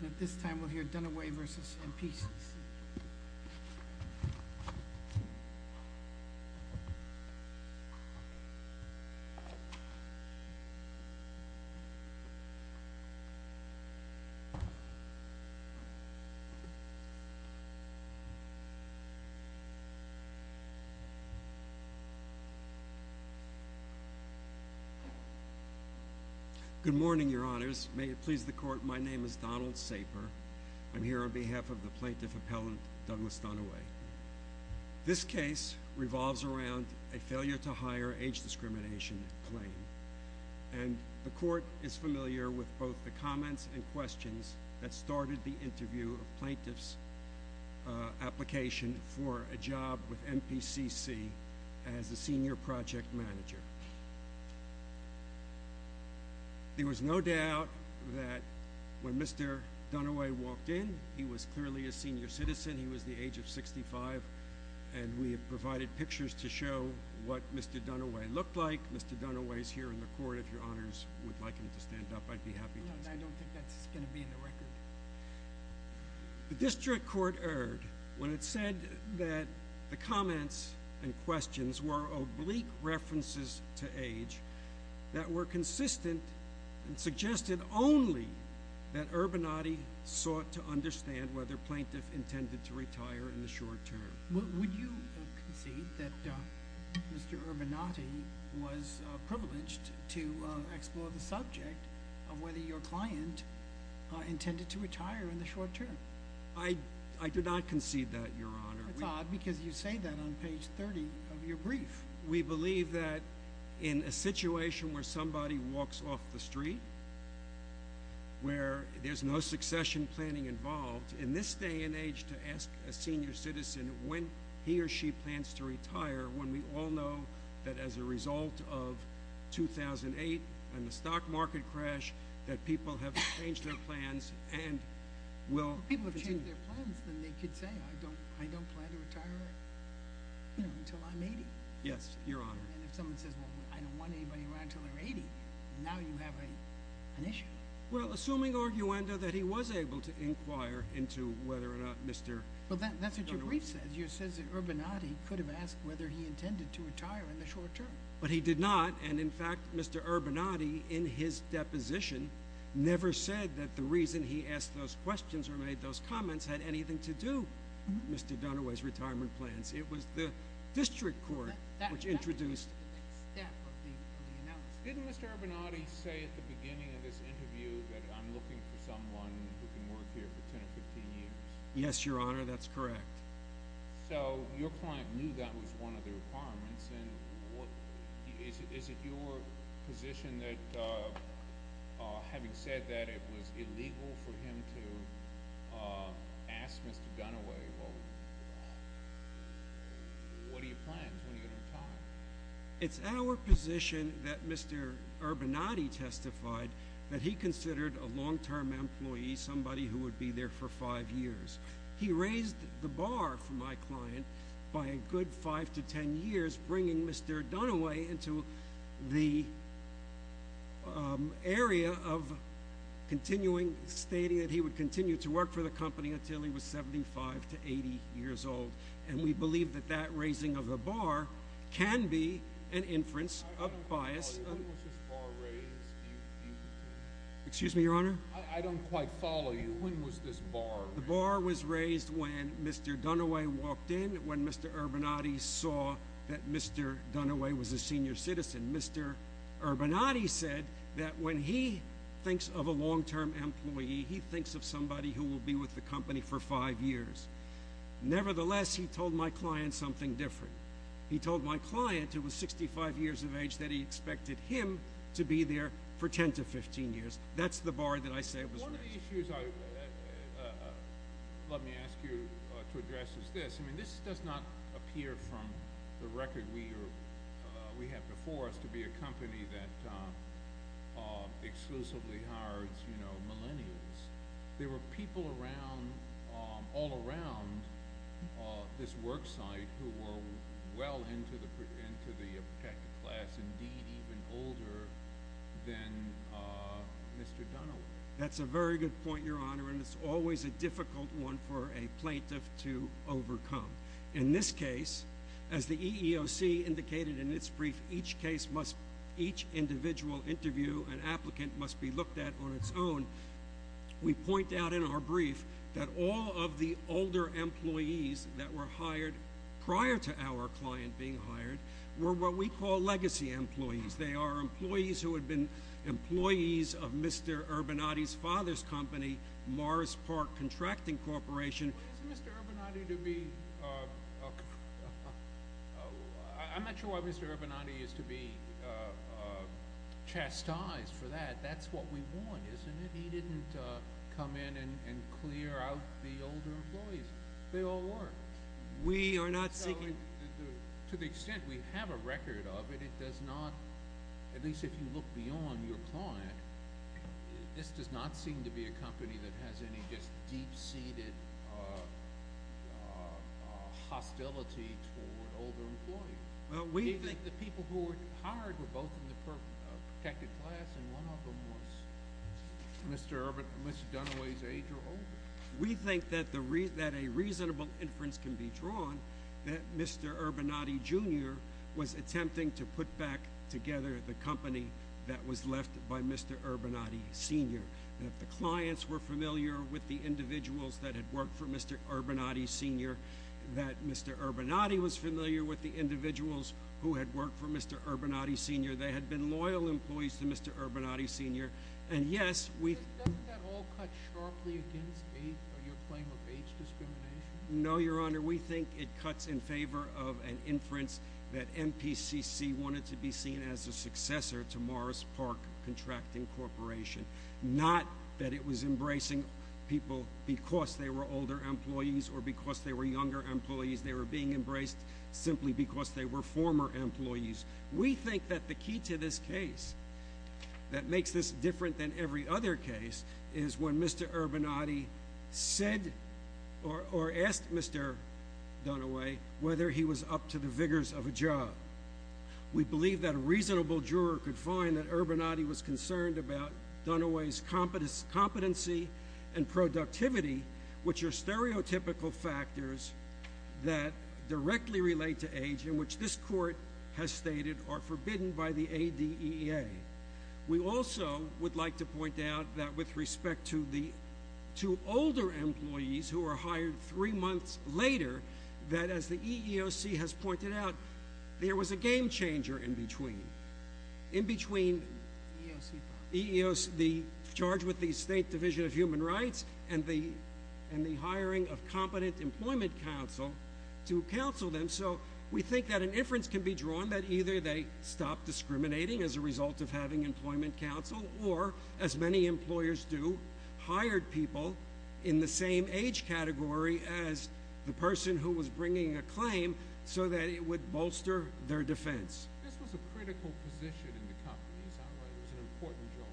At this time, we'll hear Dunaway v. MPCC. Good morning, Your Honors. May it please the Court, my name is Donald Saper. I'm here on behalf of the Plaintiff Appellant, Douglas Dunaway. This case revolves around a failure-to-hire age discrimination claim, and the Court is familiar with both the comments and questions that started the interview of Plaintiff's application for a job with MPCC as a Senior Project Manager. There was no doubt that when Mr. Dunaway walked in, he was clearly a senior citizen. He was the age of 65, and we have provided pictures to show what Mr. Dunaway looked like. Mr. Dunaway is here in the Court, if Your Honors would like him to stand up, I'd be happy to. No, I don't think that's going to be in the record. The District Court erred when it said that the comments and questions were oblique references to age that were consistent and suggested only that Urbanati sought to understand whether Plaintiff intended to retire in the short term. Would you concede that Mr. Urbanati was privileged to explore the subject of whether your client intended to retire in the short term? I do not concede that, Your Honor. That's odd, because you say that on page 30 of your brief. We believe that in a situation where somebody walks off the street, where there's no succession planning involved, in this day and age to ask a senior citizen when he or she plans to retire, when we all know that as a result of 2008 and the stock market crash, that people have changed their plans and will continue. People have changed their plans, then they could say, I don't plan to retire until I'm 80. Yes, Your Honor. And if someone says, well, I don't want anybody around until they're 80, now you have an issue. Well, assuming, Arguendo, that he was able to inquire into whether or not Mr. Dunaway Well, that's what your brief says. It says that Urbanati could have asked whether he intended to retire in the short term. But he did not, and in fact, Mr. Urbanati, in his deposition, never said that the reason he asked those questions or made those comments had anything to do with Mr. Dunaway's retirement plans. It was the district court which introduced... That's the next step of the analysis. Didn't Mr. Urbanati say at the beginning of this interview that I'm looking for someone who can work here for 10 or 15 years? Yes, Your Honor, that's correct. So, your client knew that was one of the requirements, and is it your position that, having said that, it was illegal for him to ask Mr. Dunaway? Well, what are your plans when you retire? It's our position that Mr. Urbanati testified that he considered a long-term employee, somebody who would be there for five years. He raised the bar for my client by a good five to ten years, bringing Mr. Dunaway into the area of continuing, stating that he would continue to work for the company until he was 75 to 80 years old, and we believe that that raising of the bar can be an inference of bias. When was this bar raised? Excuse me, Your Honor? I don't quite follow you. When was this bar raised? The bar was raised when Mr. Dunaway walked in, when Mr. Urbanati saw that Mr. Dunaway was a senior citizen. Mr. Urbanati said that when he thinks of a long-term employee, he thinks of somebody who will be with the company for five years. Nevertheless, he told my client something different. He told my client, who was 65 years of age, that he expected him to be there for ten to fifteen years. That's the bar that I say was raised. One of the issues, let me ask you to address, is this. I mean, this does not appear from the record we have before us to be a company that exclusively hires, you know, millennials. There were people around, all around this work site who were well into the class, indeed even older than Mr. Dunaway. That's a very good point, Your Honor, and it's always a difficult one for a plaintiff to overcome. In this case, as the EEOC indicated in its brief, each case must, each individual interview and applicant must be looked at on its own. We point out in our brief that all of the older employees that were hired prior to our client being hired were what we call legacy employees. They are employees who had been employees of Mr. Urbanati's father's company, Morris Park Contracting Corporation. I'm not sure why Mr. Urbanati is to be chastised for that. That's what we want, isn't it? He didn't come in and clear out the older employees. They all work. We are not seeking— To the extent we have a record of it, it does not, at least if you look beyond your client, this does not seem to be a company that has any just deep-seated hostility toward older employees. Do you think the people who were hired were both in the protected class and one of them was Mr. Dunaway's age or older? We think that a reasonable inference can be drawn that Mr. Urbanati Jr. was attempting to put back together the company that was left by Mr. Urbanati Sr. If the clients were familiar with the individuals that had worked for Mr. Urbanati Sr., that Mr. Urbanati was familiar with the individuals who had worked for Mr. Urbanati Sr., they had been loyal employees to Mr. Urbanati Sr. Doesn't that all cut sharply against your claim of age discrimination? No, Your Honor. Your Honor, we think it cuts in favor of an inference that MPCC wanted to be seen as a successor to Morris Park Contracting Corporation, not that it was embracing people because they were older employees or because they were younger employees. They were being embraced simply because they were former employees. We think that the key to this case that makes this different than every other case is when Mr. Urbanati said or asked Mr. Dunaway whether he was up to the vigors of a job. We believe that a reasonable juror could find that Urbanati was concerned about Dunaway's competency and productivity, which are stereotypical factors that directly relate to age in which this court has stated are forbidden by the ADEA. We also would like to point out that with respect to older employees who are hired three months later, that as the EEOC has pointed out, there was a game changer in between. In between the charge with the State Division of Human Rights and the hiring of competent employment counsel to counsel them, so we think that an inference can be drawn that either they stop discriminating as a result of having employment counsel or, as many employers do, hired people in the same age category as the person who was bringing a claim so that it would bolster their defense. This was a critical position in the company. It sounded like it was an important job.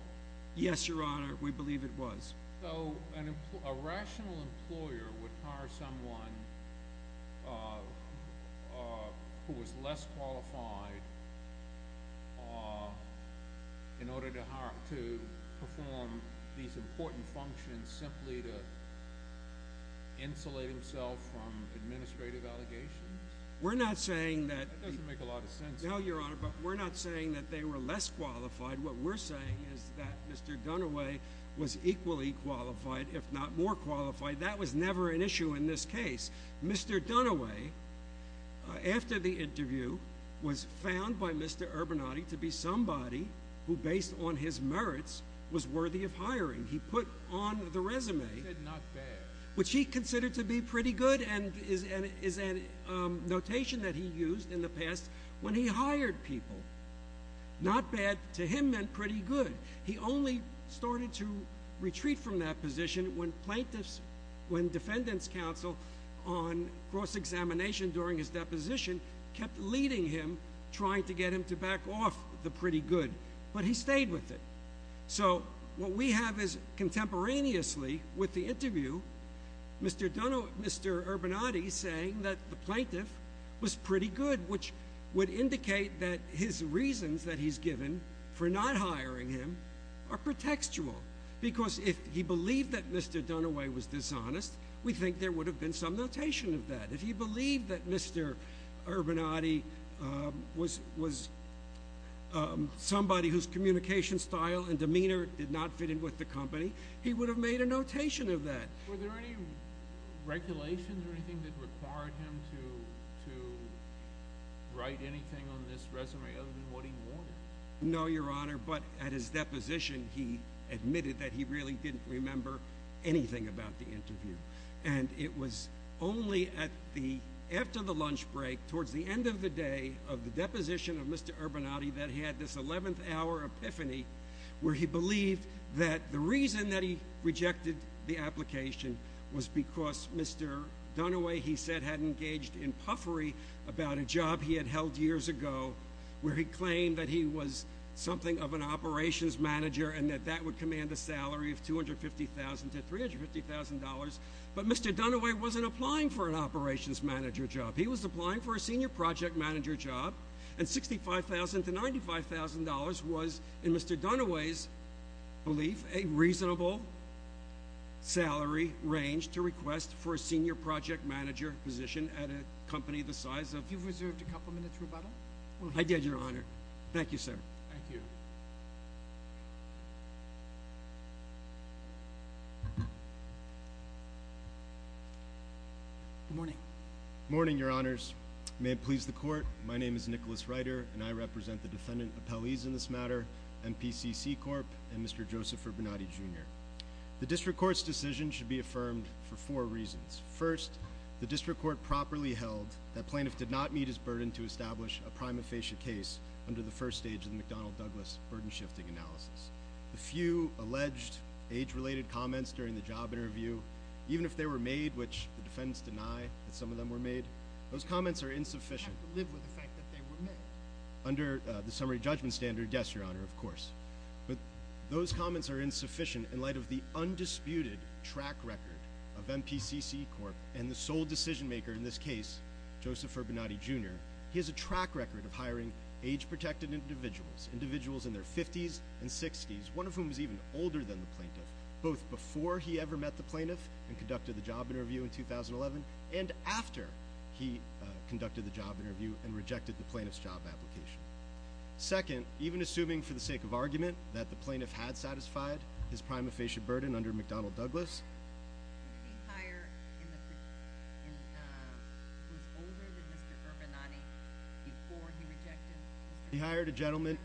Yes, Your Honor. We believe it was. So a rational employer would hire someone who was less qualified in order to perform these important functions simply to insulate himself from administrative allegations? That doesn't make a lot of sense. No, Your Honor, but we're not saying that they were less qualified. What we're saying is that Mr. Dunaway was equally qualified, if not more qualified. That was never an issue in this case. Mr. Dunaway, after the interview, was found by Mr. Urbanati to be somebody who, based on his merits, was worthy of hiring. He put on the resume, which he considered to be pretty good and is a notation that he meant pretty good. He only started to retreat from that position when plaintiffs, when defendant's counsel on cross-examination during his deposition kept leading him, trying to get him to back off the pretty good, but he stayed with it. So what we have is contemporaneously with the interview, Mr. Urbanati saying that the are pretextual, because if he believed that Mr. Dunaway was dishonest, we think there would have been some notation of that. If he believed that Mr. Urbanati was somebody whose communication style and demeanor did not fit in with the company, he would have made a notation of that. Were there any regulations or anything that required him to write anything on this resume other than what he wanted? No, Your Honor, but at his deposition, he admitted that he really didn't remember anything about the interview. And it was only after the lunch break, towards the end of the day of the deposition of Mr. Urbanati, that he had this 11th hour epiphany where he believed that the reason that he rejected the application was because Mr. Dunaway, he said, had engaged in puffery about a job he had held years ago where he claimed that he was something of an operations manager and that that would command a salary of $250,000 to $350,000. But Mr. Dunaway wasn't applying for an operations manager job. He was applying for a senior project manager job, and $65,000 to $95,000 was, in Mr. Dunaway's belief, a reasonable salary range to request for a senior project manager position at a company that he believed was a good fit for him. So, Mr. Dunaway, I think you deserved a couple minutes rebuttal. I did, Your Honor. Thank you, sir. Thank you. Good morning. Good morning, Your Honors. May it please the Court, my name is Nicholas Reiter, and I represent the defendant appellees in this matter, MPCC Corp., and Mr. Joseph Urbanati, Jr. The district court's decision should be affirmed for four reasons. First, the district court properly held that Plaintiff did not meet his burden to establish a prime aphasia case under the first stage of the McDonnell-Douglas burden-shifting analysis. The few alleged age-related comments during the job interview, even if they were made, which the defendants deny that some of them were made, those comments are insufficient. They have to live with the fact that they were made. Under the summary judgment standard, yes, Your Honor, of course. But those comments are insufficient in light of the undisputed track record of MPCC Corp. and the sole decision-maker in this case, Joseph Urbanati, Jr. He has a track record of hiring age-protected individuals, individuals in their 50s and 60s, one of whom is even older than the Plaintiff, both before he ever met the Plaintiff and conducted the job interview in 2011, and after he conducted the job interview and rejected the Plaintiff's job application. Second, even assuming, for the sake of argument, that the Plaintiff had satisfied his prime aphasia burden under McDonnell-Douglas, he hired a gentleman,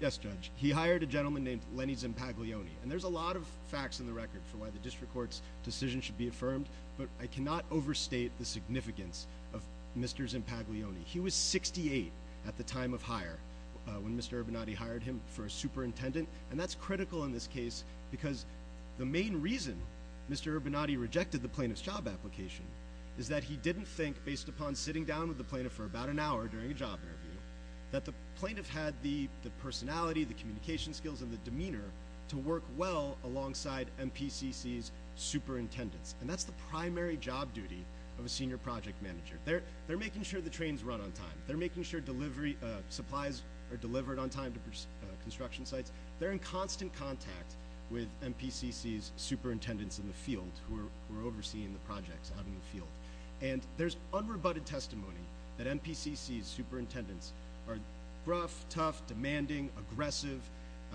yes, Judge, he hired a gentleman named Lenny Zimpaglione, and there's a lot of facts in the record for why the District Court's decision should be affirmed, but I cannot overstate the significance of Mr. Zimpaglione. He was 68 at the time of hire, when Mr. Urbanati hired him for a superintendent, and that's critical in this case because the main reason Mr. Urbanati rejected the Plaintiff's job application is that he didn't think, based upon sitting down with the Plaintiff for about an hour during a job interview, that the Plaintiff had the personality, the communication skills, and the demeanor to work well alongside MPCC's superintendents, and that's the primary job duty of a senior project manager. They're making sure the trains run on time. They're making sure supplies are delivered on time to construction sites. They're in constant contact with MPCC's superintendents in the field who are overseeing the projects out in the field, and there's unrebutted testimony that MPCC's superintendents are gruff, tough, demanding, aggressive,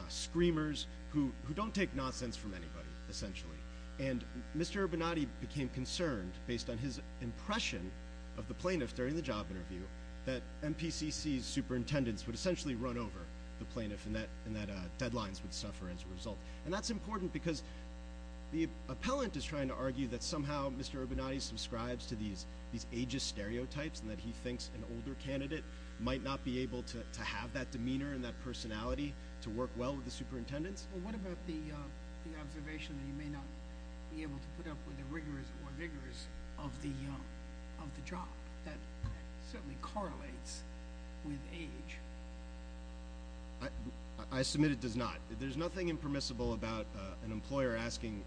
screamers, who don't take nonsense from anybody, essentially, and Mr. Urbanati became concerned, based on his impression of the Plaintiff during the job interview, that MPCC's superintendents would essentially run over the Plaintiff, and that deadlines would suffer as a result, and that's important because the appellant is trying to argue that somehow Mr. Urbanati subscribes to these ageist stereotypes, and that he thinks an older candidate might not be able to have that demeanor and that personality to work well with the superintendents. What about the observation that he may not be able to put up with the rigors or vigors of the job? That certainly correlates with age. I submit it does not. There's nothing impermissible about an employer asking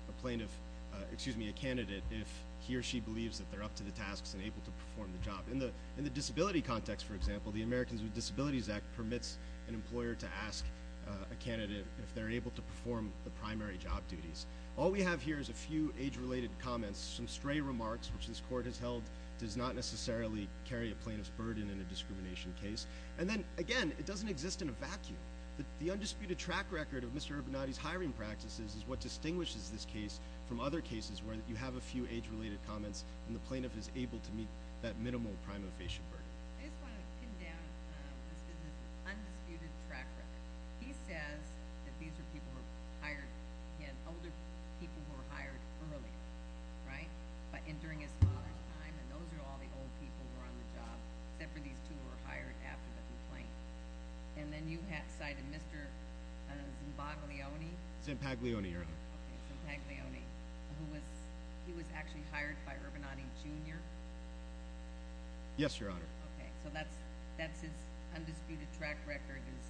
a candidate if he or she believes that they're up to the tasks and able to perform the job. In the disability context, for example, the Americans with Disabilities Act permits an employer to ask a candidate if they're able to perform the primary job duties. All we have here is a few age-related comments, some stray remarks, which this Court has held does not necessarily carry a Plaintiff's burden in a discrimination case, and then, again, it doesn't exist in a vacuum. The undisputed track record of Mr. Urbanati's hiring practices is what distinguishes this case from other cases where you have a few age-related comments and the Plaintiff is able to meet that minimal prima facie burden. I just want to pin down Mr. Urbanati's undisputed track record. He says that these are people who were hired, again, older people who were hired earlier, right? But during his father's time, and those are all the old people who were on the job, except for these two who were hired after the complaint. And then you cited Mr. Zimbaglione. Zimbaglione, Your Honor. Okay, Zimbaglione, who was actually hired by Urbanati, Jr.? Yes, Your Honor. Okay, so that's his undisputed track record is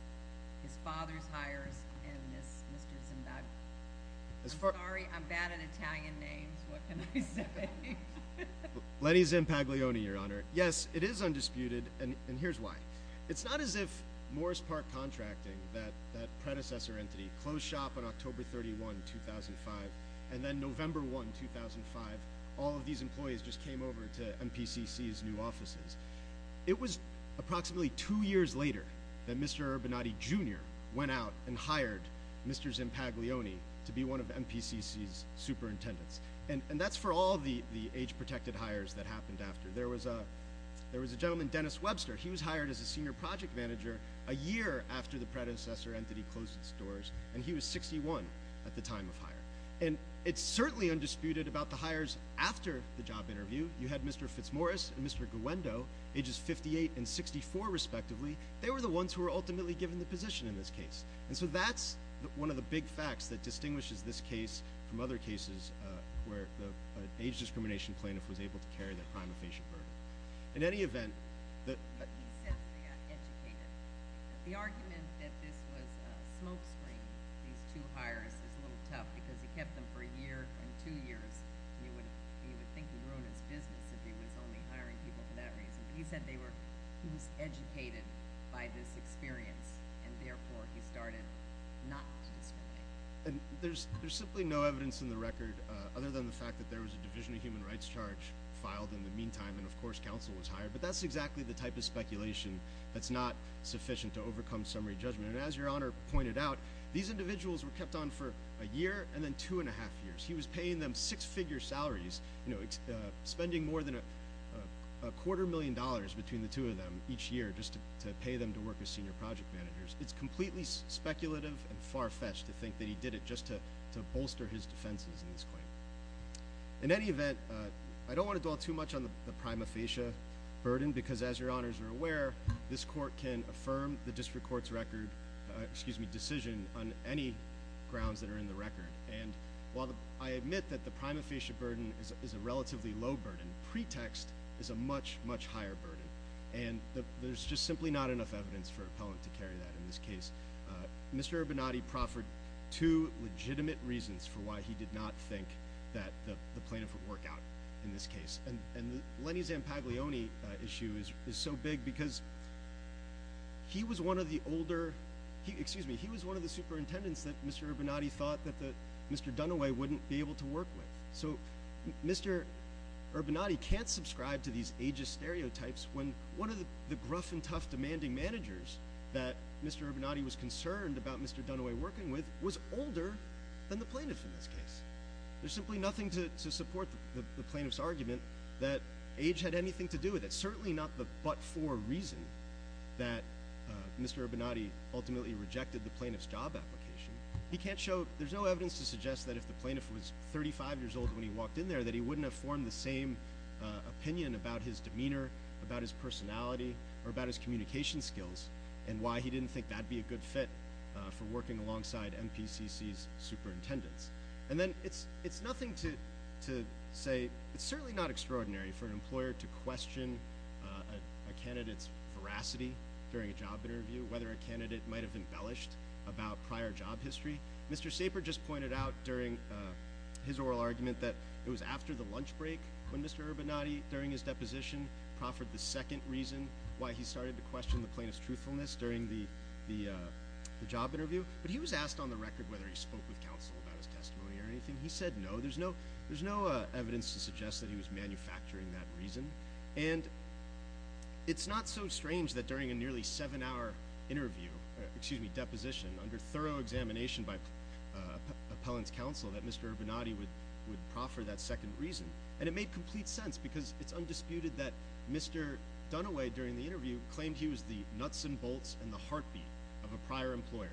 his father's hires and Mr. Zimbaglione. I'm sorry, I'm bad at Italian names. What can I say? Lenny Zimbaglione, Your Honor. Yes, it is undisputed, and here's why. It's not as if Morris Park Contracting, that predecessor entity, closed shop on October 31, 2005, and then November 1, 2005, all of these employees just came over to MPCC's new offices. It was approximately two years later that Mr. Urbanati, Jr. went out and hired Mr. Zimbaglione to be one of MPCC's superintendents, and that's for all the age-protected hires that happened after. There was a gentleman, Dennis Webster. He was hired as a senior project manager a year after the predecessor entity closed its doors, and he was 61 at the time of hire. And it's certainly undisputed about the hires after the job interview. You had Mr. FitzMorris and Mr. Guendo, ages 58 and 64, respectively. They were the ones who were ultimately given the position in this case. And so that's one of the big facts that distinguishes this case from other cases where the age-discrimination plaintiff was able to carry the crime of facial burden. In any event, the— these two hires is a little tough because he kept them for a year and two years, and you would think he'd ruin his business if he was only hiring people for that reason. But he said they were—he was educated by this experience, and therefore he started not to discriminate. And there's simply no evidence in the record other than the fact that there was a Division of Human Rights charge filed in the meantime, and, of course, counsel was hired. But that's exactly the type of speculation that's not sufficient to overcome summary judgment. And as Your Honor pointed out, these individuals were kept on for a year and then two and a half years. He was paying them six-figure salaries, you know, spending more than a quarter million dollars between the two of them each year just to pay them to work as senior project managers. It's completely speculative and far-fetched to think that he did it just to bolster his defenses in this claim. In any event, I don't want to dwell too much on the crime of facial burden because, as Your Honors are aware, this Court can affirm the District Court's record— excuse me, decision on any grounds that are in the record. And while I admit that the crime of facial burden is a relatively low burden, pretext is a much, much higher burden. And there's just simply not enough evidence for an appellant to carry that in this case. Mr. Urbanati proffered two legitimate reasons for why he did not think that the plaintiff would work out in this case. And Lenny Zampaglione issue is so big because he was one of the older— excuse me, he was one of the superintendents that Mr. Urbanati thought that Mr. Dunaway wouldn't be able to work with. So Mr. Urbanati can't subscribe to these ageist stereotypes when one of the gruff and tough demanding managers that Mr. Urbanati was concerned about Mr. Dunaway working with was older than the plaintiff in this case. There's simply nothing to support the plaintiff's argument that age had anything to do with it. It's certainly not the but-for reason that Mr. Urbanati ultimately rejected the plaintiff's job application. He can't show—there's no evidence to suggest that if the plaintiff was 35 years old when he walked in there, that he wouldn't have formed the same opinion about his demeanor, about his personality, or about his communication skills, and why he didn't think that'd be a good fit for working alongside MPCC's superintendents. And then it's nothing to say—it's certainly not extraordinary for an employer to question a candidate's veracity during a job interview, whether a candidate might have embellished about prior job history. Mr. Saper just pointed out during his oral argument that it was after the lunch break when Mr. Urbanati, during his deposition, proffered the second reason why he started to question the plaintiff's truthfulness during the job interview. But he was asked on the record whether he spoke with counsel about his testimony or anything. He said no. There's no evidence to suggest that he was manufacturing that reason. And it's not so strange that during a nearly seven-hour interview— excuse me, deposition, under thorough examination by appellant's counsel, that Mr. Urbanati would proffer that second reason. And it made complete sense because it's undisputed that Mr. Dunaway, during the interview, claimed he was the nuts and bolts and the heartbeat of a prior employer,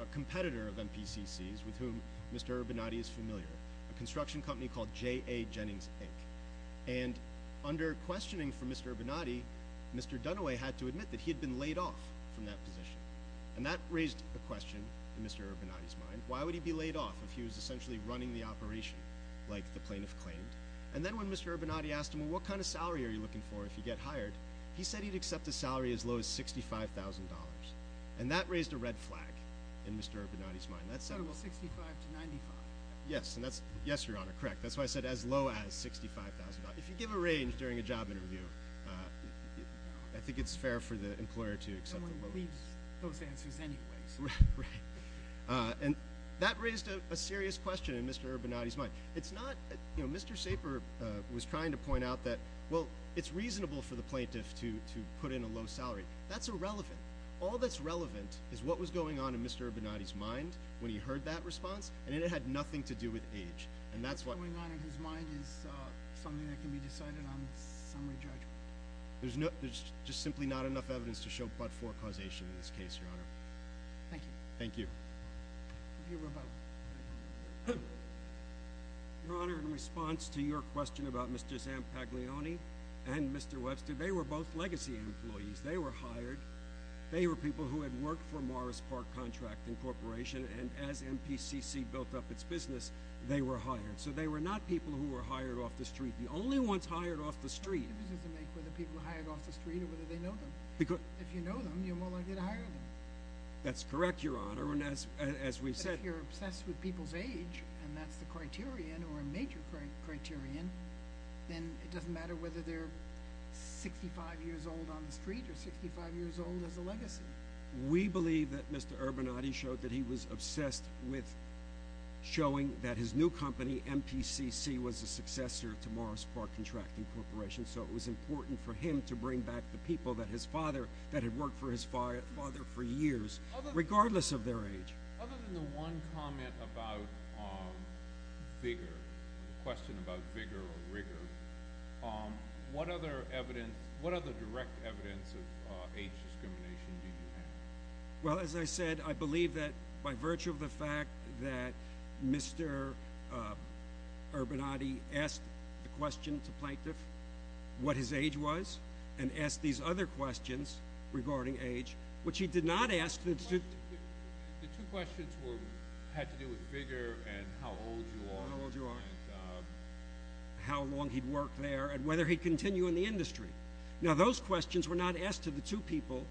a competitor of MPCC's with whom Mr. Urbanati is familiar, a construction company called J.A. Jennings, Inc. And under questioning from Mr. Urbanati, Mr. Dunaway had to admit that he had been laid off from that position. And that raised a question in Mr. Urbanati's mind. Why would he be laid off if he was essentially running the operation like the plaintiff claimed? And then when Mr. Urbanati asked him, well, what kind of salary are you looking for if you get hired, he said he'd accept a salary as low as $65,000. And that raised a red flag in Mr. Urbanati's mind. So it was $65,000 to $95,000. Yes, Your Honor, correct. That's why I said as low as $65,000. If you give a range during a job interview, I think it's fair for the employer to accept— Someone leaves those answers anyways. It's not—Mr. Saper was trying to point out that, well, it's reasonable for the plaintiff to put in a low salary. That's irrelevant. All that's relevant is what was going on in Mr. Urbanati's mind when he heard that response, and it had nothing to do with age. What's going on in his mind is something that can be decided on summary judgment. There's just simply not enough evidence to show but-for causation in this case, Your Honor. Thank you. Thank you. You're welcome. Your Honor, in response to your question about Mr. Zampaglione and Mr. Webster, they were both legacy employees. They were hired. They were people who had worked for Morris Park Contracting Corporation, and as MPCC built up its business, they were hired. So they were not people who were hired off the street. The only ones hired off the street— The difference doesn't make whether people are hired off the street or whether they know them. Because— If you know them, you're more likely to hire them. That's correct, Your Honor, and as we've said— But if you're obsessed with people's age, and that's the criterion or a major criterion, then it doesn't matter whether they're 65 years old on the street or 65 years old as a legacy. We believe that Mr. Urbanati showed that he was obsessed with showing that his new company, MPCC, was a successor to Morris Park Contracting Corporation, so it was important for him to bring back the people that his father— that had worked for his father for years, regardless of their age. Other than the one comment about vigor, the question about vigor or rigor, what other direct evidence of age discrimination did you have? Well, as I said, I believe that by virtue of the fact that Mr. Urbanati asked the question to Plaintiff what his age was and asked these other questions regarding age, which he did not ask— The two questions had to do with vigor and how old you are. How old you are. And how long he'd worked there and whether he'd continue in the industry. Now, those questions were not asked to the two people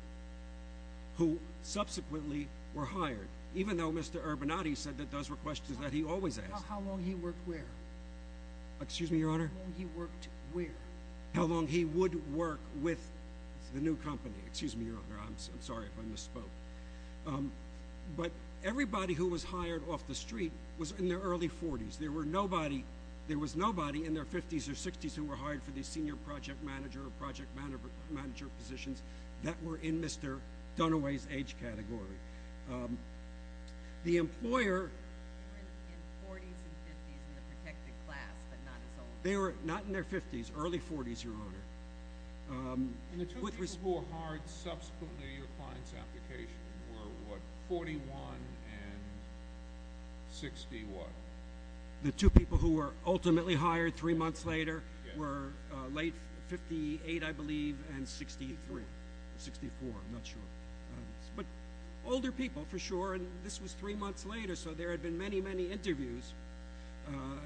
who subsequently were hired, even though Mr. Urbanati said that those were questions that he always asked. How long he worked where? Excuse me, Your Honor? How long he worked where? How long he would work with the new company. Excuse me, Your Honor, I'm sorry if I misspoke. But everybody who was hired off the street was in their early 40s. There was nobody in their 50s or 60s who were hired for the senior project manager or project manager positions that were in Mr. Dunaway's age category. The employer— They were in their 40s and 50s in the protected class, but not as old. They were not in their 50s, early 40s, Your Honor. And the two people who were hired subsequently to your client's application were what, 41 and 61? The two people who were ultimately hired three months later were late 58, I believe, and 63, 64. I'm not sure. But older people, for sure, and this was three months later, so there had been many, many interviews.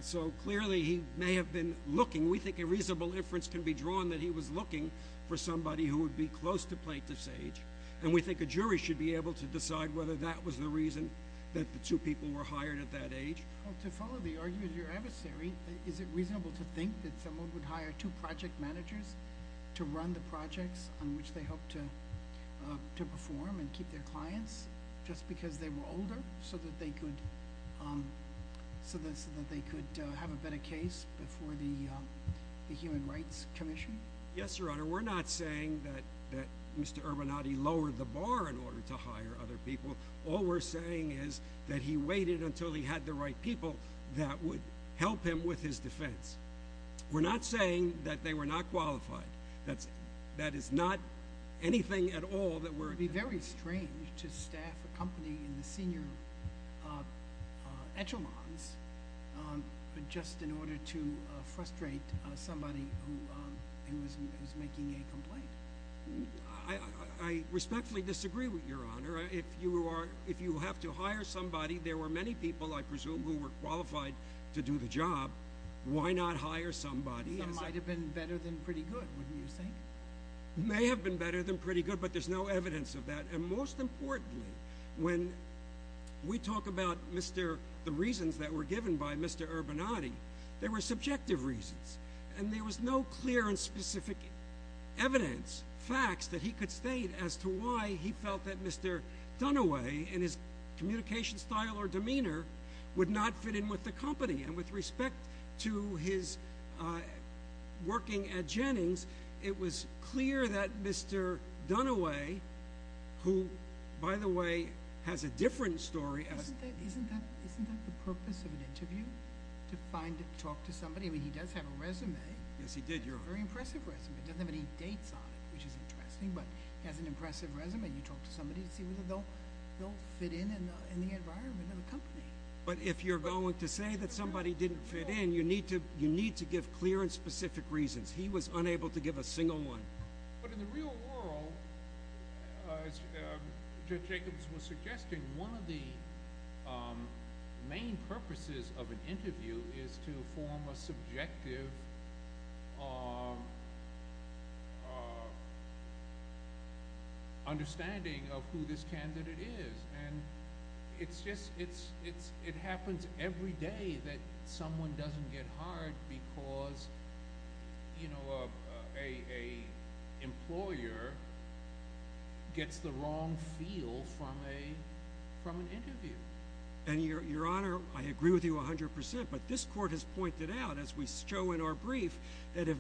So clearly he may have been looking. We think a reasonable inference can be drawn that he was looking for somebody who would be close to Plaintiff's age. And we think a jury should be able to decide whether that was the reason that the two people were hired at that age. Well, to follow the argument of your adversary, is it reasonable to think that someone would hire two project managers to run the projects on which they hope to perform and keep their clients just because they were older so that they could have a better case before the Human Rights Commission? Yes, Your Honor. We're not saying that Mr. Urbanati lowered the bar in order to hire other people. All we're saying is that he waited until he had the right people that would help him with his defense. We're not saying that they were not qualified. That is not anything at all that we're— It would be very strange to staff a company in the senior echelons just in order to frustrate somebody who is making a complaint. I respectfully disagree with you, Your Honor. If you have to hire somebody, there were many people, I presume, who were qualified to do the job. Why not hire somebody? That might have been better than pretty good, wouldn't you think? It may have been better than pretty good, but there's no evidence of that. And most importantly, when we talk about the reasons that were given by Mr. Urbanati, they were subjective reasons. And there was no clear and specific evidence, facts, that he could state as to why he felt that Mr. Dunaway, in his communication style or demeanor, would not fit in with the company. And with respect to his working at Jennings, it was clear that Mr. Dunaway, who, by the way, has a different story— Isn't that the purpose of an interview, to talk to somebody? I mean, he does have a resume. Yes, he did, Your Honor. A very impressive resume. It doesn't have any dates on it, which is interesting, but he has an impressive resume. You talk to somebody to see whether they'll fit in in the environment of a company. But if you're going to say that somebody didn't fit in, you need to give clear and specific reasons. He was unable to give a single one. But in the real world, as Judge Jacobs was suggesting, one of the main purposes of an interview is to form a subjective understanding of who this candidate is. It happens every day that someone doesn't get hired because an employer gets the wrong feel from an interview. Your Honor, I agree with you 100%, but this Court has pointed out, as we show in our brief, that if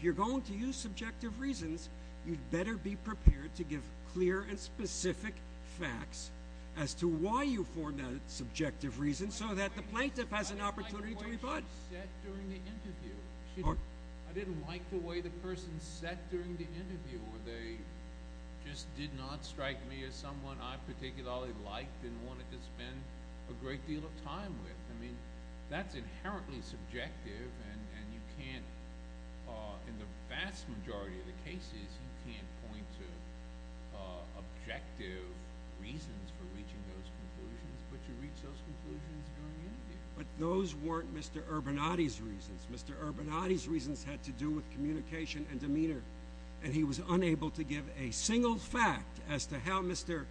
you're going to use subjective reasons, you'd better be prepared to give clear and specific facts as to why you formed that subjective reason so that the plaintiff has an opportunity to rebut. I didn't like the way the person said during the interview. They just did not strike me as someone I particularly liked and wanted to spend a great deal of time with. That's inherently subjective, and in the vast majority of the cases, you can't point to objective reasons for reaching those conclusions, but you reach those conclusions during the interview. But those weren't Mr. Urbanati's reasons. Mr. Urbanati's reasons had to do with communication and demeanor, and he was unable to give a single fact as to how Mr.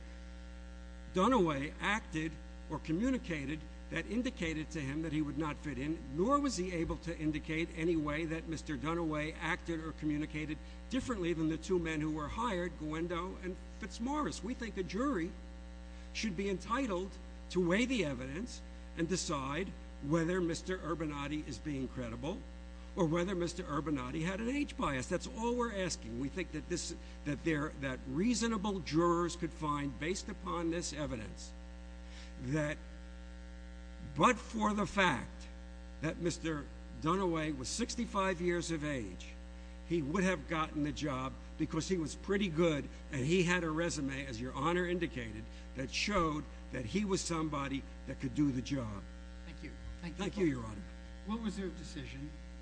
Dunaway acted or communicated that indicated to him that he would not fit in, nor was he able to indicate any way that Mr. Dunaway acted or communicated differently than the two men who were hired, Guendo and Fitzmaurice. We think a jury should be entitled to weigh the evidence and decide whether Mr. Urbanati is being credible or whether Mr. Urbanati had an age bias. That's all we're asking. We think that reasonable jurors could find, based upon this evidence, that but for the fact that Mr. Dunaway was 65 years of age, he would have gotten the job because he was pretty good and he had a resume, as your Honor indicated, that showed that he was somebody that could do the job. Thank you. Thank you, Your Honor. What was your decision?